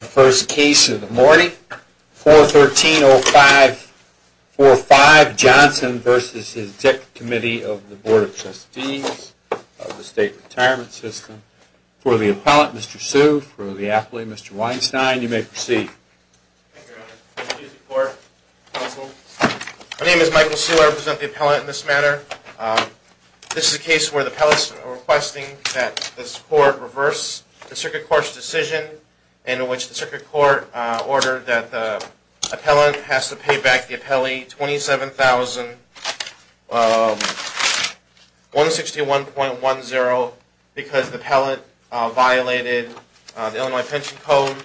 The first case of the morning, 413-05-45, Johnson v. Executive Committee of the Board of Trustees of the State Retirement System. For the appellant, Mr. Hsu. For the applant, Mr. Weinstein. You may proceed. My name is Michael Hsu. I represent the appellant in this matter. This is a case where the appellants are requesting that this court reverse the Circuit Court's decision in which the Circuit Court ordered that the appellant has to pay back the appellee $27,161.10 because the appellant violated the Illinois Pension Code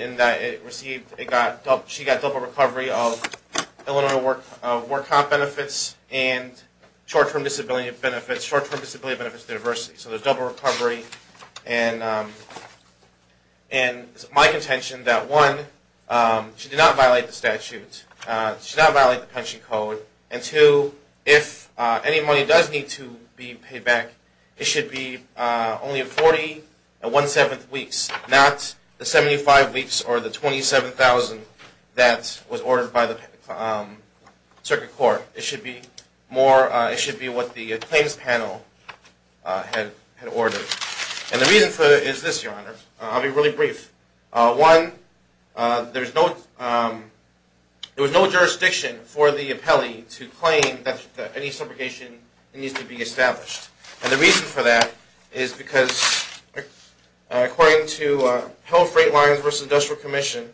in that she got double recovery of Illinois work comp benefits and short-term disability benefits, short-term disability benefits to diversity. So there's double recovery. And it's my contention that, one, she did not violate the statute. She did not violate the Pension Code. And two, if any money does need to be paid back, it should be only in 40 and 1 7th weeks, not the 75 weeks or the $27,000 that was ordered by the Circuit Court. It should be more, it should be what the claims panel had ordered. And the reason for it is this, Your Honor. I'll be really brief. One, there's no, there was no jurisdiction for the appellee to claim that any subrogation needs to be established. And the reason for that is because, according to Hill Freight Lines v. Industrial Commission,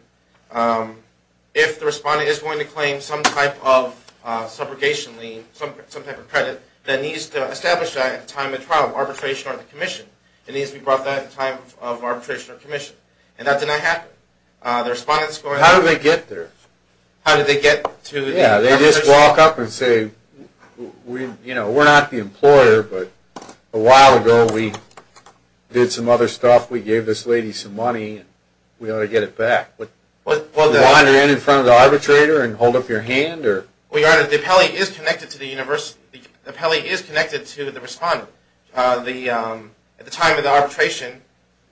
if the respondent is going to claim some type of subrogation lien, some type of credit, that needs to establish that at the time of trial, arbitration or commission. It needs to be brought at the time of arbitration or commission. And that did not happen. The respondent's going to... How did they get there? How did they get to... Yeah, they just walk up and say, you know, we're not the employer, but a while ago we did some other stuff. We gave this lady some money. We ought to get it back. What... You want her in front of the arbitrator and hold up your hand or... Well, Your Honor, the appellee is connected to the university... The appellee is connected to the respondent. At the time of the arbitration,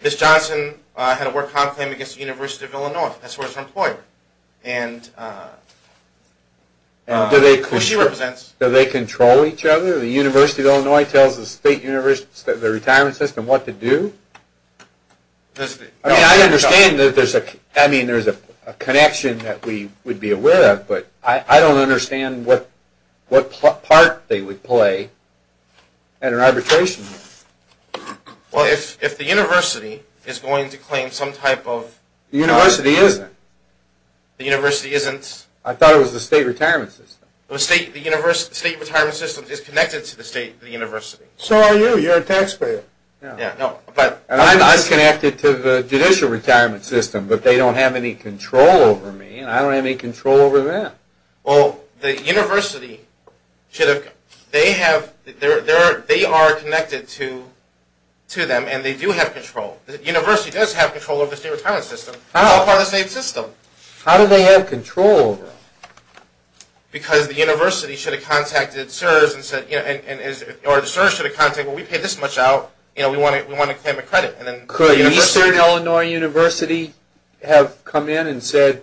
Ms. Johnson had a work-con claim against the University of Illinois. That's where she's an employer. And who she represents... Do they control each other? The University of Illinois tells the retirement system what to do? I mean, I understand that there's a connection that we would be aware of, but I don't understand what part they would play at an arbitration hearing. Well, if the university is going to claim some type of... The university isn't. The university isn't? I thought it was the state retirement system. The state retirement system is connected to the state university. So are you. You're a taxpayer. I'm connected to the judicial retirement system, but they don't have any control over me, and I don't have any control over them. Well, the university should have... They are connected to them, and they do have control. The university does have control over the state retirement system. I'm a part of the state system. How do they have control over it? Because the university should have contacted CSRS and said... Or CSRS should have contacted, well, we paid this much out. We want to claim a credit. Could Eastern Illinois University have come in and said,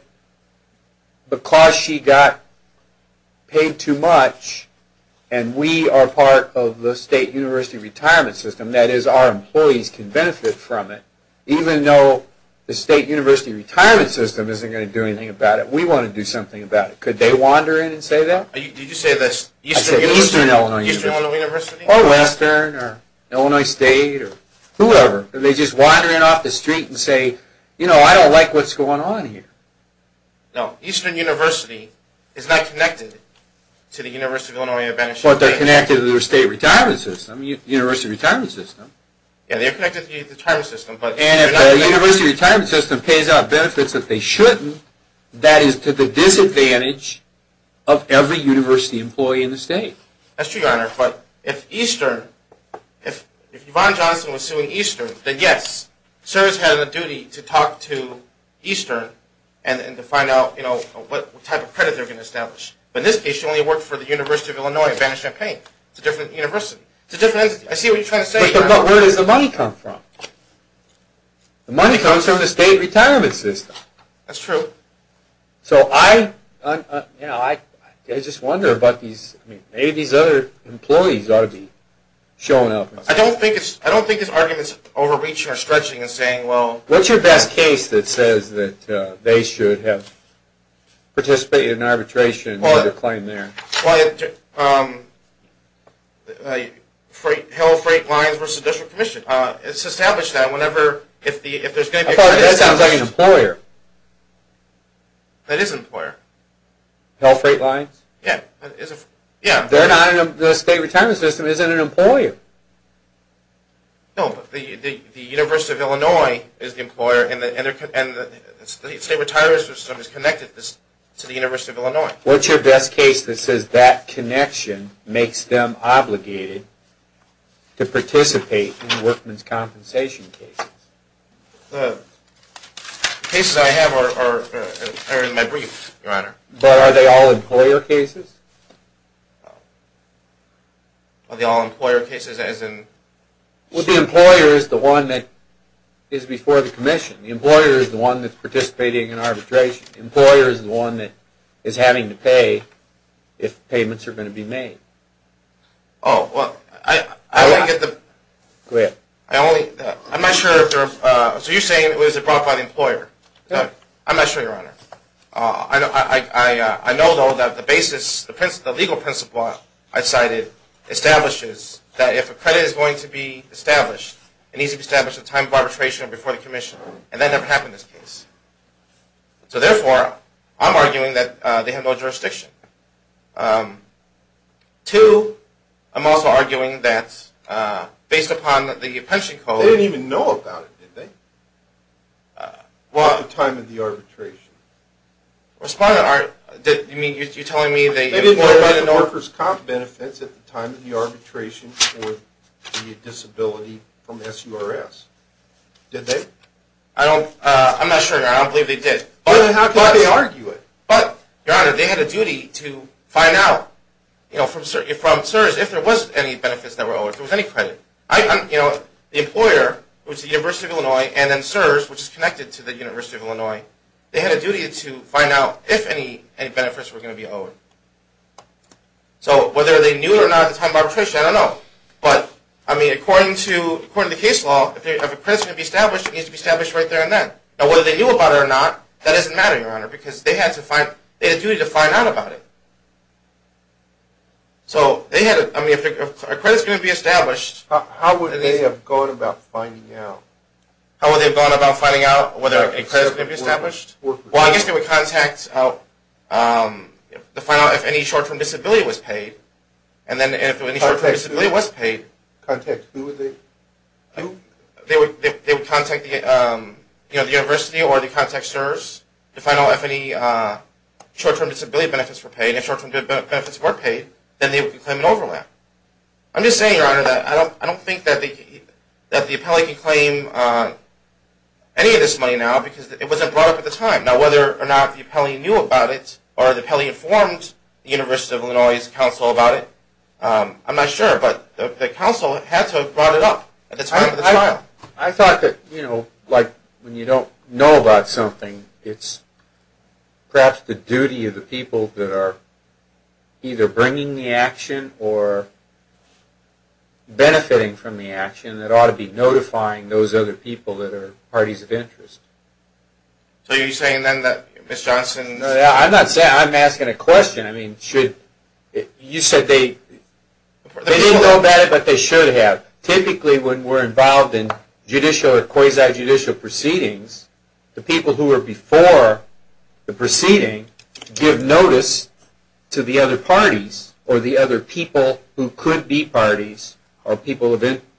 because she got paid too much, and we are part of the state university retirement system, that is, our employees can benefit from it, even though the state university retirement system isn't going to do anything about it, we want to do something about it. Could they wander in and say that? Did you say this? I said Eastern Illinois University. Or Western, or Illinois State, or whoever. They just wander in off the street and say, you know, I don't like what's going on here. No, Eastern University is not connected to the University of Illinois at Vanishing Point. But they're connected to their state retirement system, university retirement system. Yeah, they're connected to the retirement system. And if the university retirement system pays out benefits that they shouldn't, that is to the disadvantage of every university employee in the state. That's true, Your Honor. But if Eastern, if Yvonne Johnson was suing Eastern, then yes, CSRS has a duty to talk to Eastern and to find out what type of credit they're going to establish. But in this case, she only worked for the University of Illinois at Vanishing Point. It's a different university. It's a different entity. I see what you're trying to say, Your Honor. But where does the money come from? The money comes from the state retirement system. That's true. So I, you know, I just wonder about these, maybe these other employees ought to be showing up. I don't think this argument is overreaching or stretching and saying, well. What's your best case that says that they should have participated in arbitration and made a claim there? Well, Hell Freight Lines versus the District Commission. It's established that whenever, if there's going to be a credit establishment. That sounds like an employer. That is an employer. Hell Freight Lines? Yeah. They're not in the state retirement system. It isn't an employer. No, but the University of Illinois is the employer and the state retirement system is connected to the University of Illinois. What's your best case that says that connection makes them obligated to participate in workman's compensation cases? The cases I have are in my briefs, Your Honor. But are they all employer cases? Are they all employer cases as in? Well, the employer is the one that is before the commission. The employer is the one that's participating in arbitration. The employer is the one that is having to pay if payments are going to be made. Oh, well, I don't get the. Go ahead. I only, I'm not sure. So you're saying it was brought by the employer? Yeah. I'm not sure, Your Honor. I know, though, that the basis, the legal principle I cited establishes that if a credit is going to be established, it needs to be established at the time of arbitration before the commission, and that never happened in this case. So, therefore, I'm arguing that they have no jurisdiction. Two, I'm also arguing that based upon the pension code. They didn't even know about it, did they? What? At the time of the arbitration. Respondent, are you telling me they didn't know about it? They didn't know about the workers' comp benefits at the time of the arbitration for the disability from SURS, did they? I don't, I'm not sure, Your Honor. I don't believe they did. Then how can they argue it? But, Your Honor, they had a duty to find out, you know, from CSRS if there was any benefits that were owed, if there was any credit. The employer, which is the University of Illinois, and then SURS, which is connected to the University of Illinois, they had a duty to find out if any benefits were going to be owed. So, whether they knew it or not at the time of arbitration, I don't know. But, I mean, according to the case law, if a credit is going to be established, it needs to be established right there and then. Now, whether they knew about it or not, that doesn't matter, Your Honor, because they had a duty to find out about it. So, they had a, I mean, if a credit is going to be established. How would they have gone about finding out? How would they have gone about finding out whether a credit is going to be established? Well, I guess they would contact, you know, to find out if any short-term disability was paid. And then if any short-term disability was paid. Contact who? They would contact, you know, the university or the contact SURS to find out if any short-term disability benefits were paid. And if short-term disability benefits were paid, then they would claim an overlap. I'm just saying, Your Honor, that I don't think that the appellee can claim any of this money now because it wasn't brought up at the time. Now, whether or not the appellee knew about it or the appellee informed the University of Illinois' counsel about it, I'm not sure. But the counsel had to have brought it up at the time of the trial. I thought that, you know, like when you don't know about something, it's perhaps the duty of the people that are either bringing the action or benefiting from the action that ought to be notifying those other people that are parties of interest. So you're saying then that Ms. Johnson... I'm not saying... I'm asking a question. I mean, should... You said they... They didn't know about it, but they should have. Typically, when we're involved in judicial or quasi-judicial proceedings, the people who are before the proceeding give notice to the other parties or the other people who could be parties or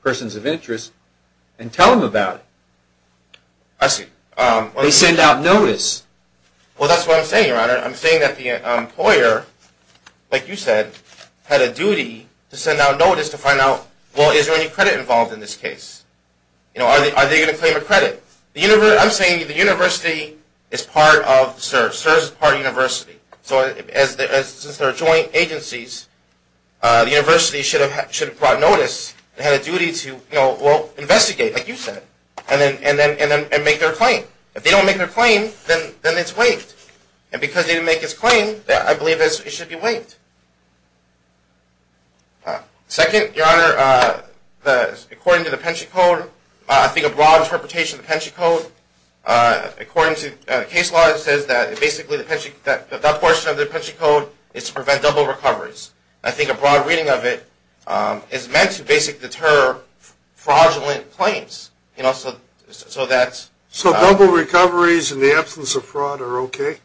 persons of interest and tell them about it. I see. They send out notice. Well, that's what I'm saying, Your Honor. I'm saying that the employer, like you said, had a duty to send out notice to find out, well, is there any credit involved in this case? You know, are they going to claim a credit? I'm saying the university is part of CERS. CERS is part of the university. So since they're joint agencies, the university should have brought notice. They had a duty to, you know, investigate, like you said, and make their claim. If they don't make their claim, then it's waived. Second, Your Honor, according to the pension code, I think a broad interpretation of the pension code, according to case law, it says that basically that portion of the pension code is to prevent double recoveries. I think a broad reading of it is meant to basically deter fraudulent claims. You know, so that's... So double recoveries in the absence of fraud are okay?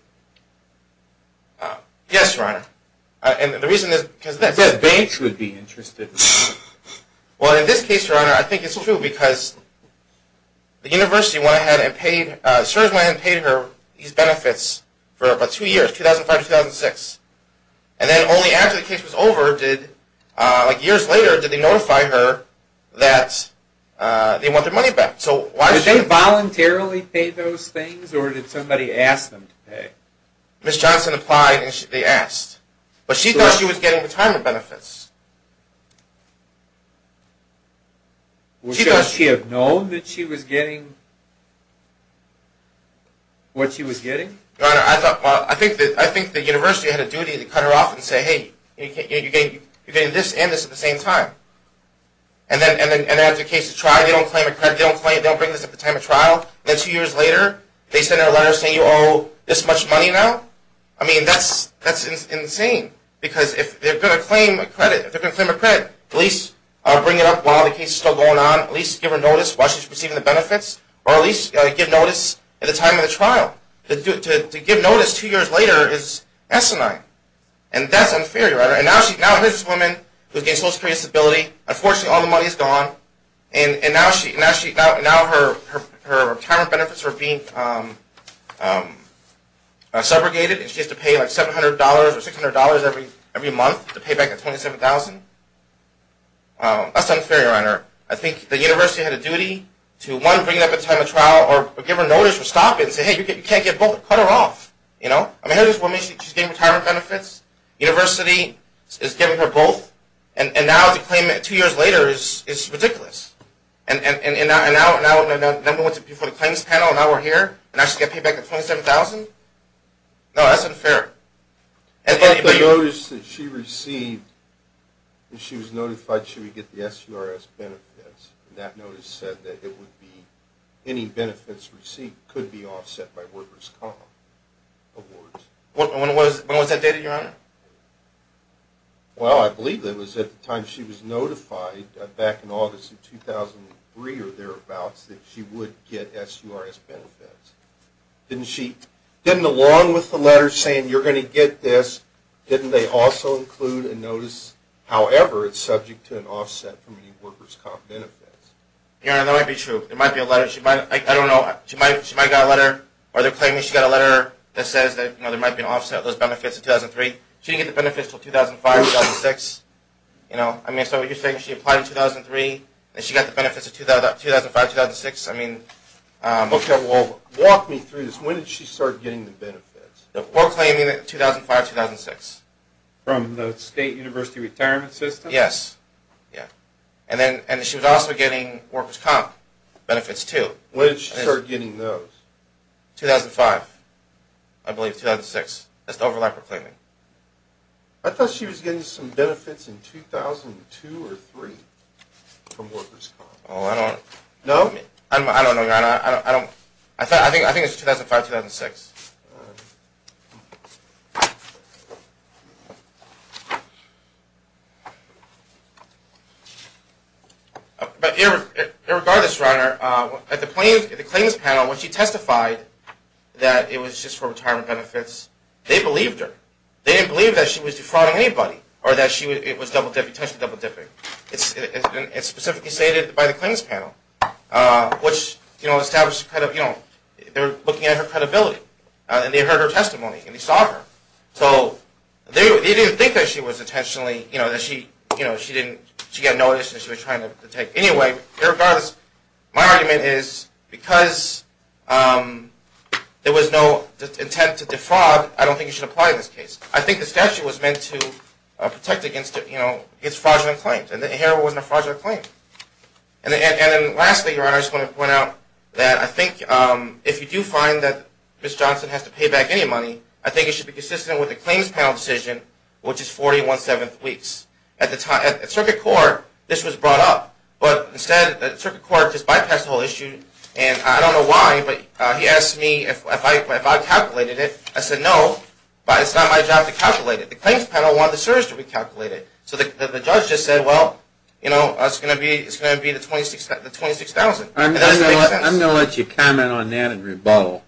Yes, Your Honor. And the reason is because... I said banks would be interested. Well, in this case, Your Honor, I think it's true because the university went ahead and paid, CERS went ahead and paid her these benefits for about two years, 2005 to 2006. And then only after the case was over did, like years later, did they notify her that they want their money back. Did they voluntarily pay those things, or did somebody ask them to pay? Ms. Johnson applied, and they asked. But she thought she was getting retirement benefits. Well, should she have known that she was getting what she was getting? Your Honor, I think the university had a duty to cut her off and say, Hey, you're getting this and this at the same time. And then after the case is tried, they don't claim a credit, they don't bring this up at the time of trial. And then two years later, they send her a letter saying, You owe this much money now? I mean, that's insane. Because if they're going to claim a credit, at least bring it up while the case is still going on. At least give her notice while she's receiving the benefits. Or at least give notice at the time of the trial. To give notice two years later is asinine. And that's unfair, Your Honor. And now here's this woman who's getting social security disability. Unfortunately, all the money is gone. And now her retirement benefits are being segregated. And she has to pay like $700 or $600 every month to pay back the $27,000. That's unfair, Your Honor. I think the university had a duty to, one, bring it up at the time of trial, or give her notice or stop it and say, Hey, you can't get both. Cut her off. Here's this woman, she's getting retirement benefits. University is giving her both. And now to claim it two years later is ridiculous. And now number one to pay for the claims panel, and now we're here, and now she's got to pay back the $27,000? No, that's unfair. But the notice that she received, when she was notified she would get the SURS benefits, that notice said that any benefits received could be offset by workers' comp awards. When was that dated, Your Honor? Well, I believe it was at the time she was notified, back in August of 2003 or thereabouts, that she would get SURS benefits. Didn't she, didn't along with the letter saying you're going to get this, didn't they also include a notice, however, it's subject to an offset from any workers' comp benefits? Your Honor, that might be true. There might be a letter, she might, I don't know, she might have got a letter, or they're claiming she got a letter that says that, you know, there might be an offset of those benefits in 2003. She didn't get the benefits until 2005, 2006, you know. I mean, so you're saying she applied in 2003, and she got the benefits in 2005, 2006, I mean. Okay, well, walk me through this. When did she start getting the benefits? We're claiming it in 2005, 2006. From the state university retirement system? Yes, yeah. And then she was also getting workers' comp benefits, too. When did she start getting those? 2005, I believe, 2006. That's the overlap we're claiming. I thought she was getting some benefits in 2002 or 2003 from workers' comp. Oh, I don't know. No? I don't know, Your Honor. I don't, I think it's 2005, 2006. All right. But irregardless, Your Honor, at the claims panel, when she testified that it was just for retirement benefits, they believed her. They didn't believe that she was defrauding anybody or that she was double-dipping, intentionally double-dipping. It's specifically stated by the claims panel, which, you know, established, you know, they were looking at her credibility, and they heard her testimony, and they saw her. So they didn't think that she was intentionally, you know, that she, you know, she didn't, she got noticed and she was trying to take. Anyway, irregardless, my argument is because there was no intent to defraud, I don't think you should apply this case. I think the statute was meant to protect against, you know, against fraudulent claims, and the heroin wasn't a fraudulent claim. And then lastly, Your Honor, I just want to point out that I think if you do find that Ms. Johnson has to pay back any money, I think it should be consistent with the claims panel decision, which is 41 7th weeks. At the time, at circuit court, this was brought up. But instead, the circuit court just bypassed the whole issue, and I don't know why, but he asked me if I calculated it. I said no, but it's not my job to calculate it. The claims panel wanted the search to be calculated. So the judge just said, well, you know, it's going to be the 26,000. And that doesn't make sense. I'm going to let you comment on that and rebuttal,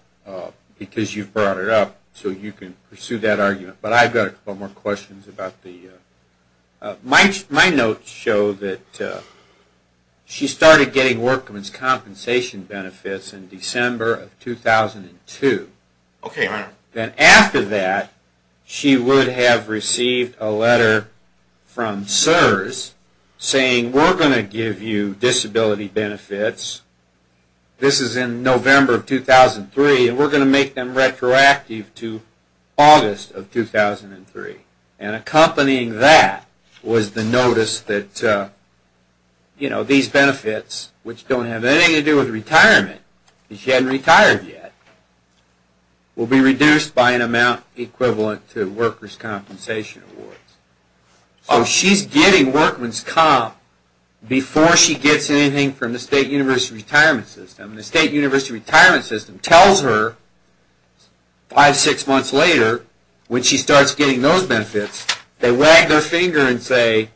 because you brought it up, so you can pursue that argument. But I've got a couple more questions about the, my notes show that she started getting workman's compensation benefits in December of 2002. Okay, Your Honor. Then after that, she would have received a letter from CSRS saying, we're going to give you disability benefits. This is in November of 2003, and we're going to make them retroactive to August of 2003. And accompanying that was the notice that, you know, these benefits, which don't have anything to do with retirement, because she hadn't retired yet, will be reduced by an amount equivalent to workers' compensation awards. So she's getting workman's comp before she gets anything from the State University Retirement System. And the State University Retirement System tells her five, six months later, when she starts getting those benefits, they wag their finger and say,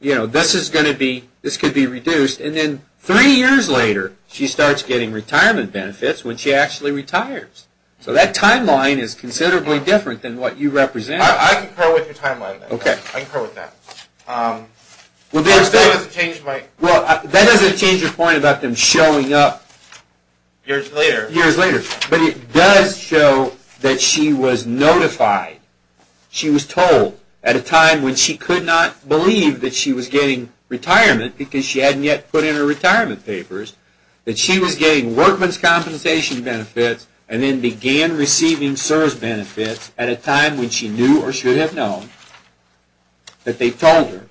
you know, this is going to be, this could be reduced. And then three years later, she starts getting retirement benefits when she actually retires. So that timeline is considerably different than what you represent. I concur with your timeline. Okay. I concur with that. Well, that doesn't change your point about them showing up. Years later. Years later. But it does show that she was notified, she was told at a time when she could not believe that she was getting retirement because she hadn't yet put in her retirement papers, that she was getting workman's compensation benefits and then began receiving CSRS benefits at a time when she knew or should have known that they told her,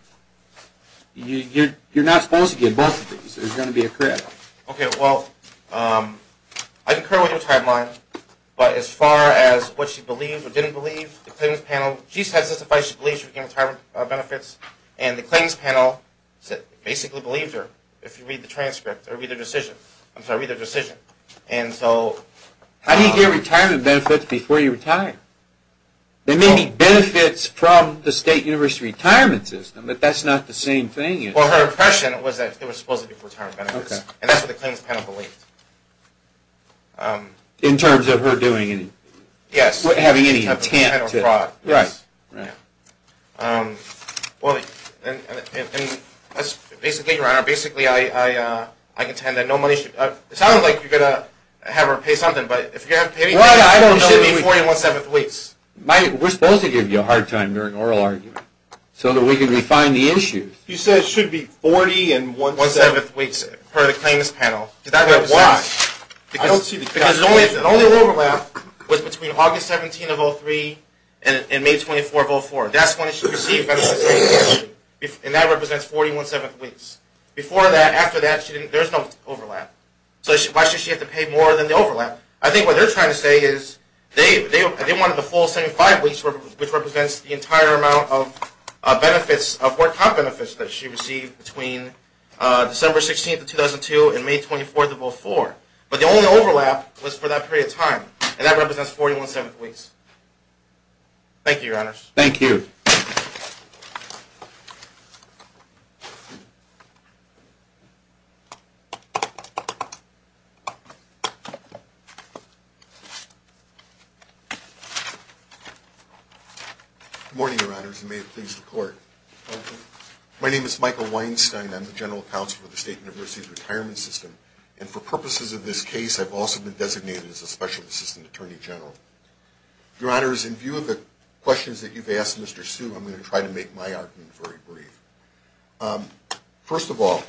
you're not supposed to get both of these. There's going to be a credit. Okay. Well, I concur with your timeline. But as far as what she believed or didn't believe, the Clearance Panel, she testified she believed she was getting retirement benefits, and the Claims Panel basically believed her if you read the transcript or read the decision. I'm sorry, read the decision. How do you get retirement benefits before you retire? There may be benefits from the State University Retirement System, but that's not the same thing. Well, her impression was that it was supposed to be for retirement benefits. And that's what the Claims Panel believed. In terms of her doing any? Yes. Without having any attempt to? Right. Well, basically, Your Honor, I contend that no money should be paid. It sounds like you're going to have her pay something, but if you're going to have her pay anything, it should be 40 and 1 7th weeks. We're supposed to give you a hard time during oral argument so that we can refine the issues. You said it should be 40 and 1 7th weeks per the Claims Panel. Why? Because the only overlap was between August 17 of 2003 and May 24 of 2004. That's when she received benefits. And that represents 40 and 1 7th weeks. After that, there's no overlap. So why should she have to pay more than the overlap? I think what they're trying to say is they wanted the full 75 weeks, which represents the entire amount of benefits, that she received between December 16 of 2002 and May 24 of 2004. But the only overlap was for that period of time, and that represents 40 and 1 7th weeks. Thank you, Your Honors. Thank you. Good morning, Your Honors, and may it please the Court. My name is Michael Weinstein. I'm the General Counsel for the State University's Retirement System, and for purposes of this case, I've also been designated as a Special Assistant Attorney General. Your Honors, in view of the questions that you've asked Mr. Hsu, I'm going to try to make my argument very brief. First of all,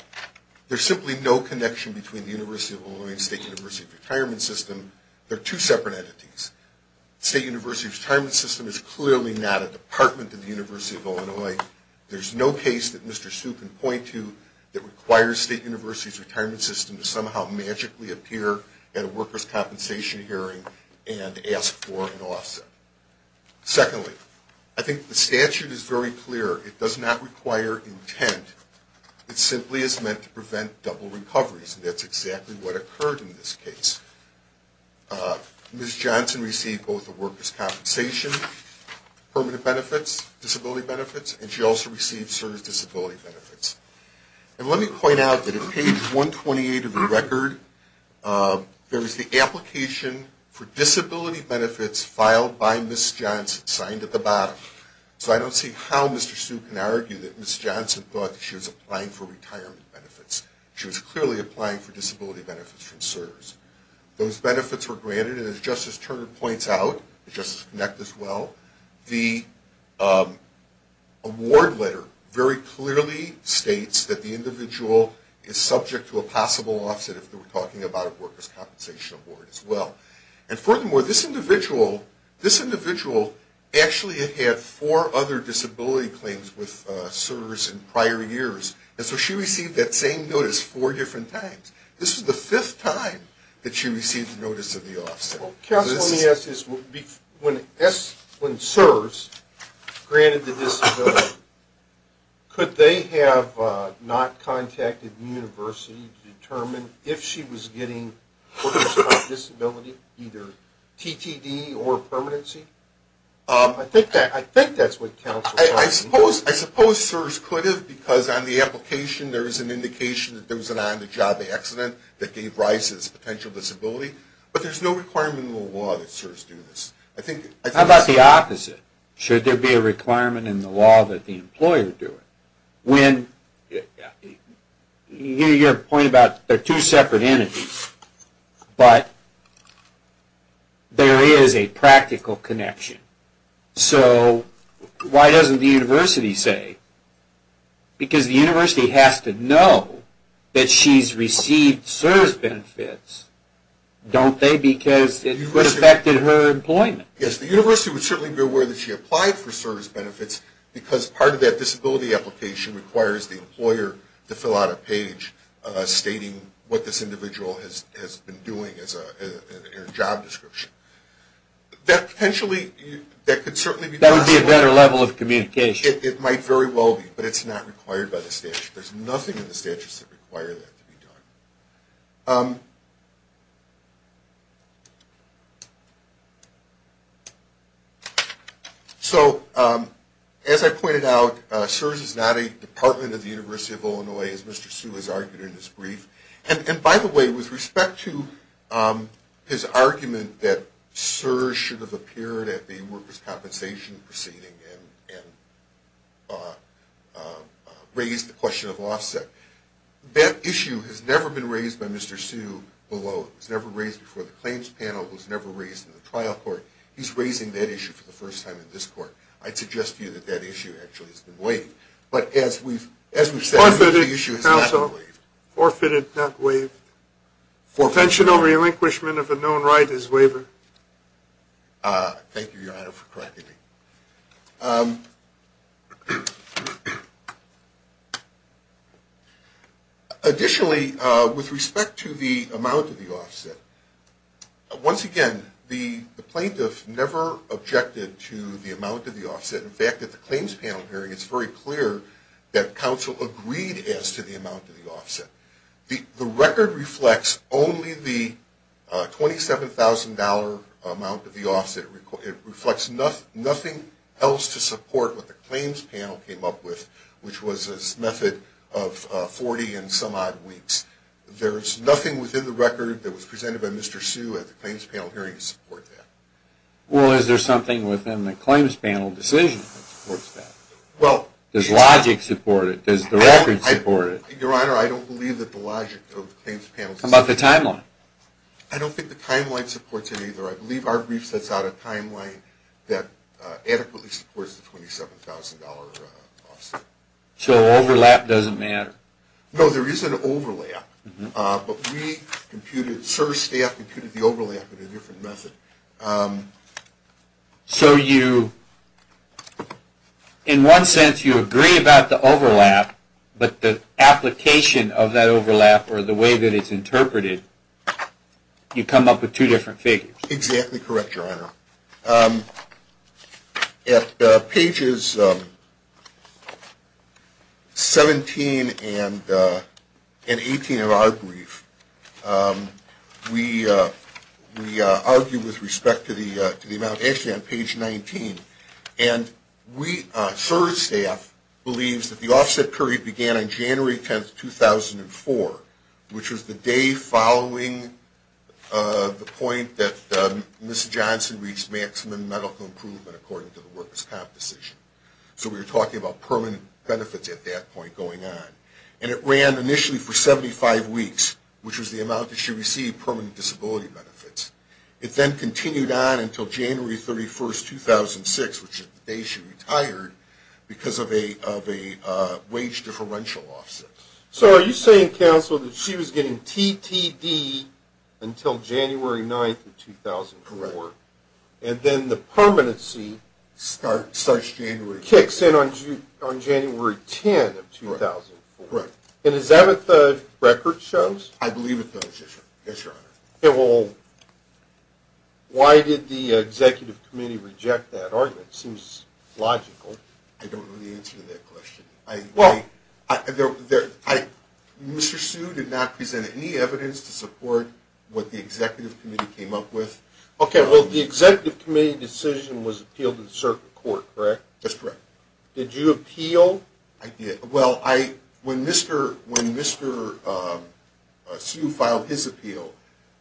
there's simply no connection between the University of Illinois and the State University's Retirement System. They're two separate entities. The State University's Retirement System is clearly not a department of the University of Illinois. There's no case that Mr. Hsu can point to that requires State University's Retirement System to somehow magically appear at a workers' compensation hearing and ask for an offset. Secondly, I think the statute is very clear. It does not require intent. It simply is meant to prevent double recoveries, and that's exactly what occurred in this case. Ms. Johnson received both the workers' compensation permanent benefits, disability benefits, and she also received CERN's disability benefits. And let me point out that on page 128 of the record, there is the application for disability benefits filed by Ms. Johnson, signed at the bottom. So I don't see how Mr. Hsu can argue that Ms. Johnson thought she was applying for retirement benefits. She was clearly applying for disability benefits from CERN. Those benefits were granted, and as Justice Turner points out, and Justice Knyk as well, the award letter very clearly states that the individual is subject to a possible offset, if we're talking about a workers' compensation award as well. And furthermore, this individual actually had had four other disability claims with CERNs in prior years, and so she received that same notice four different times. This was the fifth time that she received notice of the offset. Well, counsel, let me ask this. When CSRS granted the disability, could they have not contacted the university to determine if she was getting workers' comp disability, either TTD or permanency? I think that's what counsel's talking about. I suppose CSRS could have, because on the application, there is an indication that there was an on-the-job accident that gave Rice his potential disability. But there's no requirement in the law that CSRS do this. How about the opposite? Should there be a requirement in the law that the employer do it? Your point about there are two separate entities, but there is a practical connection. So why doesn't the university say? Because the university has to know that she's received CSRS benefits, don't they? Because it would have affected her employment. Yes, the university would certainly be aware that she applied for CSRS benefits, because part of that disability application requires the employer to fill out a page stating what this individual has been doing as a job description. That could certainly be possible. That would be a better level of communication. It might very well be, but it's not required by the statute. There's nothing in the statute that requires that to be done. So as I pointed out, CSRS is not a department of the University of Illinois, as Mr. Sue has argued in his brief. And by the way, with respect to his argument that CSRS should have appeared at the workers' compensation proceeding and raised the question of offset, that issue has never been raised by Mr. Sue below. It was never raised before the claims panel. It was never raised in the trial court. He's raising that issue for the first time in this court. I'd suggest to you that that issue actually has been waived. But as we've said, the issue has not been waived. Forfeited, counsel. Forfeited, not waived. Forfeited, not waived. Pension over relinquishment of a known right is waived. Thank you, Your Honor, for correcting me. Additionally, with respect to the amount of the offset, once again, the plaintiff never objected to the amount of the offset. In fact, at the claims panel hearing, it's very clear that counsel agreed as to the amount of the offset. The record reflects only the $27,000 amount of the offset. It reflects nothing else to support what the claims panel came up with, which was this method of 40 and some odd weeks. There's nothing within the record that was presented by Mr. Sue at the claims panel hearing to support that. Well, is there something within the claims panel decision that supports that? Does logic support it? Does the record support it? Your Honor, I don't believe that the logic of the claims panel... How about the timeline? I don't think the timeline supports it either. I believe our brief sets out a timeline that adequately supports the $27,000 offset. So overlap doesn't matter? No, there is an overlap. But we computed, service staff computed the overlap in a different method. So you, in one sense, you agree about the overlap, but the application of that overlap or the way that it's interpreted, you come up with two different figures. At pages 17 and 18 of our brief, we argue with respect to the amount, actually on page 19, and we, service staff, believes that the offset period began on January 10, 2004, which was the day following the point that Ms. Johnson reached maximum medical improvement, according to the workers' comp decision. So we were talking about permanent benefits at that point going on. And it ran initially for 75 weeks, which was the amount that she received, permanent disability benefits. It then continued on until January 31, 2006, which is the day she retired, because of a wage differential offset. So are you saying, counsel, that she was getting TTD until January 9, 2004? Correct. And then the permanency starts January 10. Kicks in on January 10 of 2004. Correct. And is that what the record shows? I believe it does, yes, Your Honor. Okay, well, why did the executive committee reject that argument? It seems logical. I don't know the answer to that question. Mr. Hsu did not present any evidence to support what the executive committee came up with. Okay, well, the executive committee decision was appealed to the circuit court, correct? That's correct. Did you appeal? I did. Well, when Mr. Hsu filed his appeal,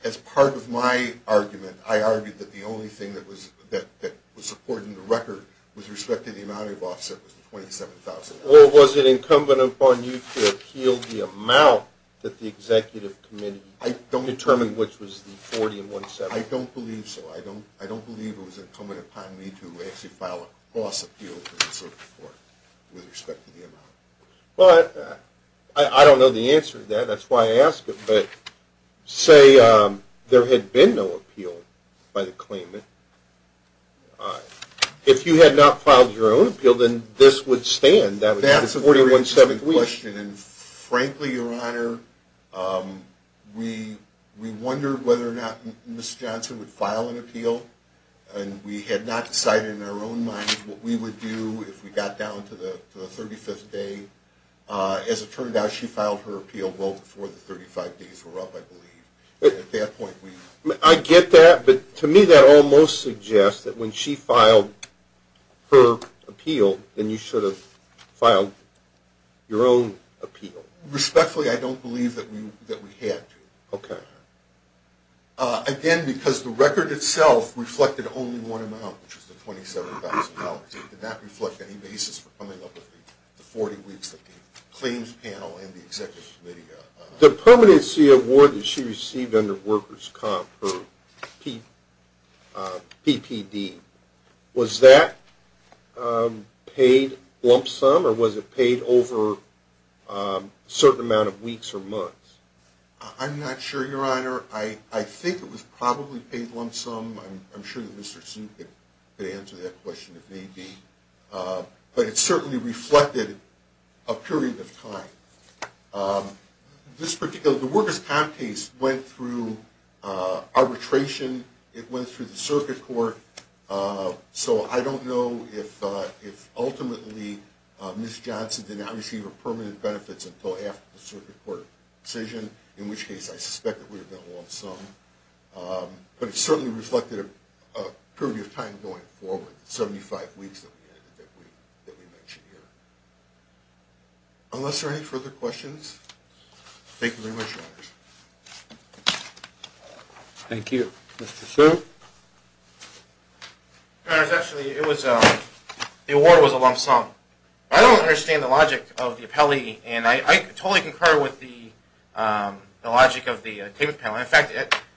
as part of my argument, I argued that the only thing that was supported in the record with respect to the amount of offset was the $27,000. Well, was it incumbent upon you to appeal the amount that the executive committee determined, which was the $40,000 and $17,000? I don't believe so. I don't believe it was incumbent upon me to actually file a cross-appeal with the circuit court with respect to the amount. Well, I don't know the answer to that. That's why I ask it. But say there had been no appeal by the claimant, if you had not filed your own appeal, then this would stand. That's a very interesting question, and frankly, Your Honor, we wondered whether or not Ms. Johnson would file an appeal, and we had not decided in our own minds what we would do if we got down to the 35th day. As it turned out, she filed her appeal well before the 35 days were up, I believe. At that point, we – I get that, but to me that almost suggests that when she filed her appeal, then you should have filed your own appeal. Respectfully, I don't believe that we had to. Okay. Again, because the record itself reflected only one amount, which was the $27,000. It did not reflect any basis for coming up with the 40 weeks that the claims panel and the executive committee – The permanency award that she received under workers' comp, her PPD, was that paid lump sum, or was it paid over a certain amount of weeks or months? I'm not sure, Your Honor. I think it was probably paid lump sum. I'm sure that Mr. Suh could answer that question if need be, but it certainly reflected a period of time. This particular – the workers' comp case went through arbitration. It went through the circuit court, so I don't know if ultimately Ms. Johnson did not receive her permanent benefits until after the circuit court decision, in which case I suspect it would have been a lump sum. But it certainly reflected a period of time going forward, the 75 weeks that we mentioned here. Unless there are any further questions, thank you very much, Your Honors. Thank you. Mr. Suh? Your Honors, actually, it was – the award was a lump sum. I don't understand the logic of the appellee, and I totally concur with the logic of the claims panel. In fact,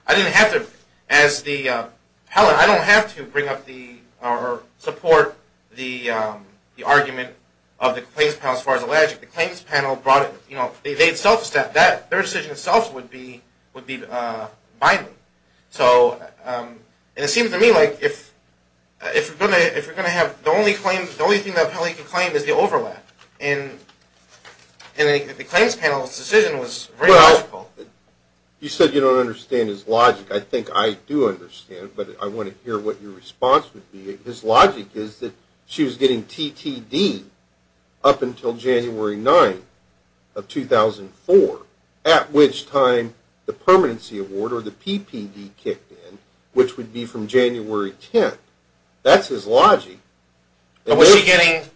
I didn't have to – as the appellee, I don't have to bring up the – or support the argument of the claims panel as far as the logic. The claims panel brought it – you know, they themselves said that their decision itself would be binding. And it seems to me like if you're going to have – the only thing the appellee can claim is the overlap. And the claims panel's decision was very logical. Well, you said you don't understand his logic. I think I do understand, but I want to hear what your response would be. His logic is that she was getting TTD up until January 9 of 2004, at which time the permanency award, or the PPD, kicked in, which would be from January 10. That's his logic. But was she getting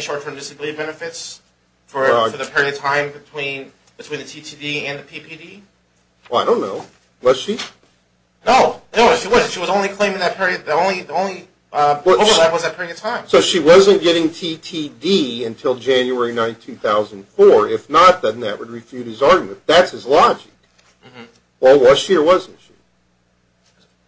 short-term disability benefits for the period of time between the TTD and the PPD? Well, I don't know. Was she? No. No, she wasn't. So she wasn't getting TTD until January 9, 2004. If not, then that would refute his argument. That's his logic. Well, was she or wasn't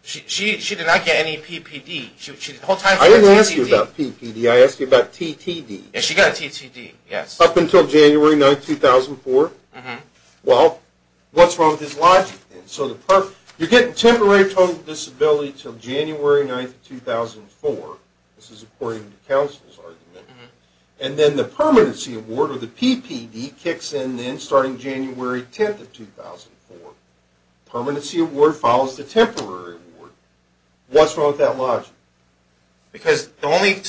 she? She did not get any PPD. The whole time she got TTD. I didn't ask you about PPD. I asked you about TTD. Yeah, she got TTD, yes. Up until January 9, 2004. Well, what's wrong with his logic? You're getting temporary total disability until January 9, 2004. This is according to counsel's argument. And then the permanency award, or the PPD, kicks in then starting January 10, 2004. The permanency award follows the temporary award. What's wrong with that logic? Because the only...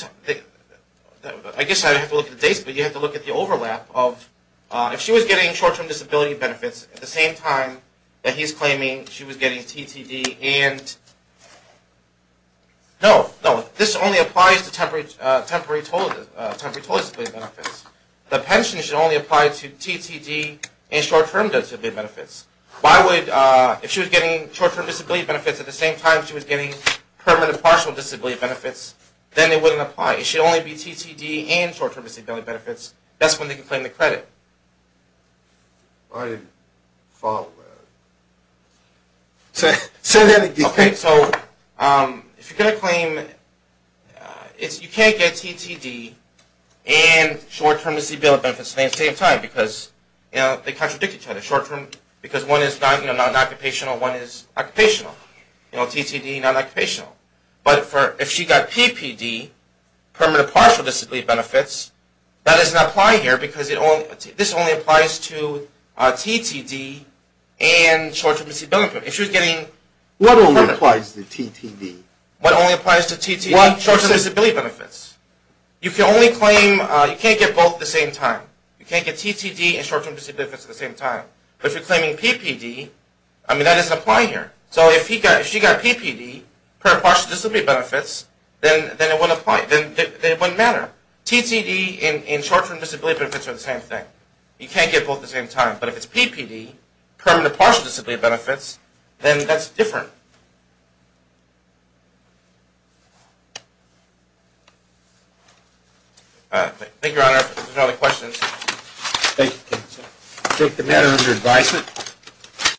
I guess I would have to look at the dates, but you have to look at the overlap of... at the same time that he's claiming she was getting TTD and... No, no. This only applies to temporary total disability benefits. The pension should only apply to TTD and short-term disability benefits. Why would... If she was getting short-term disability benefits at the same time she was getting permanent partial disability benefits, then it wouldn't apply. It should only be TTD and short-term disability benefits. That's when they can claim the credit. I didn't follow that. Say that again. Okay, so if you're going to claim... You can't get TTD and short-term disability benefits at the same time because they contradict each other. Short-term because one is non-occupational, one is occupational. TTD, non-occupational. But if she got PPD, permanent partial disability benefits, that doesn't apply here because this only applies to TTD and short-term disability benefits. If she was getting... What only applies to TTD? What only applies to TTD? Short-term disability benefits. You can only claim... You can't get both at the same time. You can't get TTD and short-term disability benefits at the same time. But if you're claiming PPD, I mean, that doesn't apply here. So if she got PPD, permanent partial disability benefits, then it wouldn't apply. Then it wouldn't matter. TTD and short-term disability benefits are the same thing. You can't get both at the same time. But if it's PPD, permanent partial disability benefits, then that's different. Thank you, Your Honor. If there are no other questions... Thank you. Take the matter under advisement.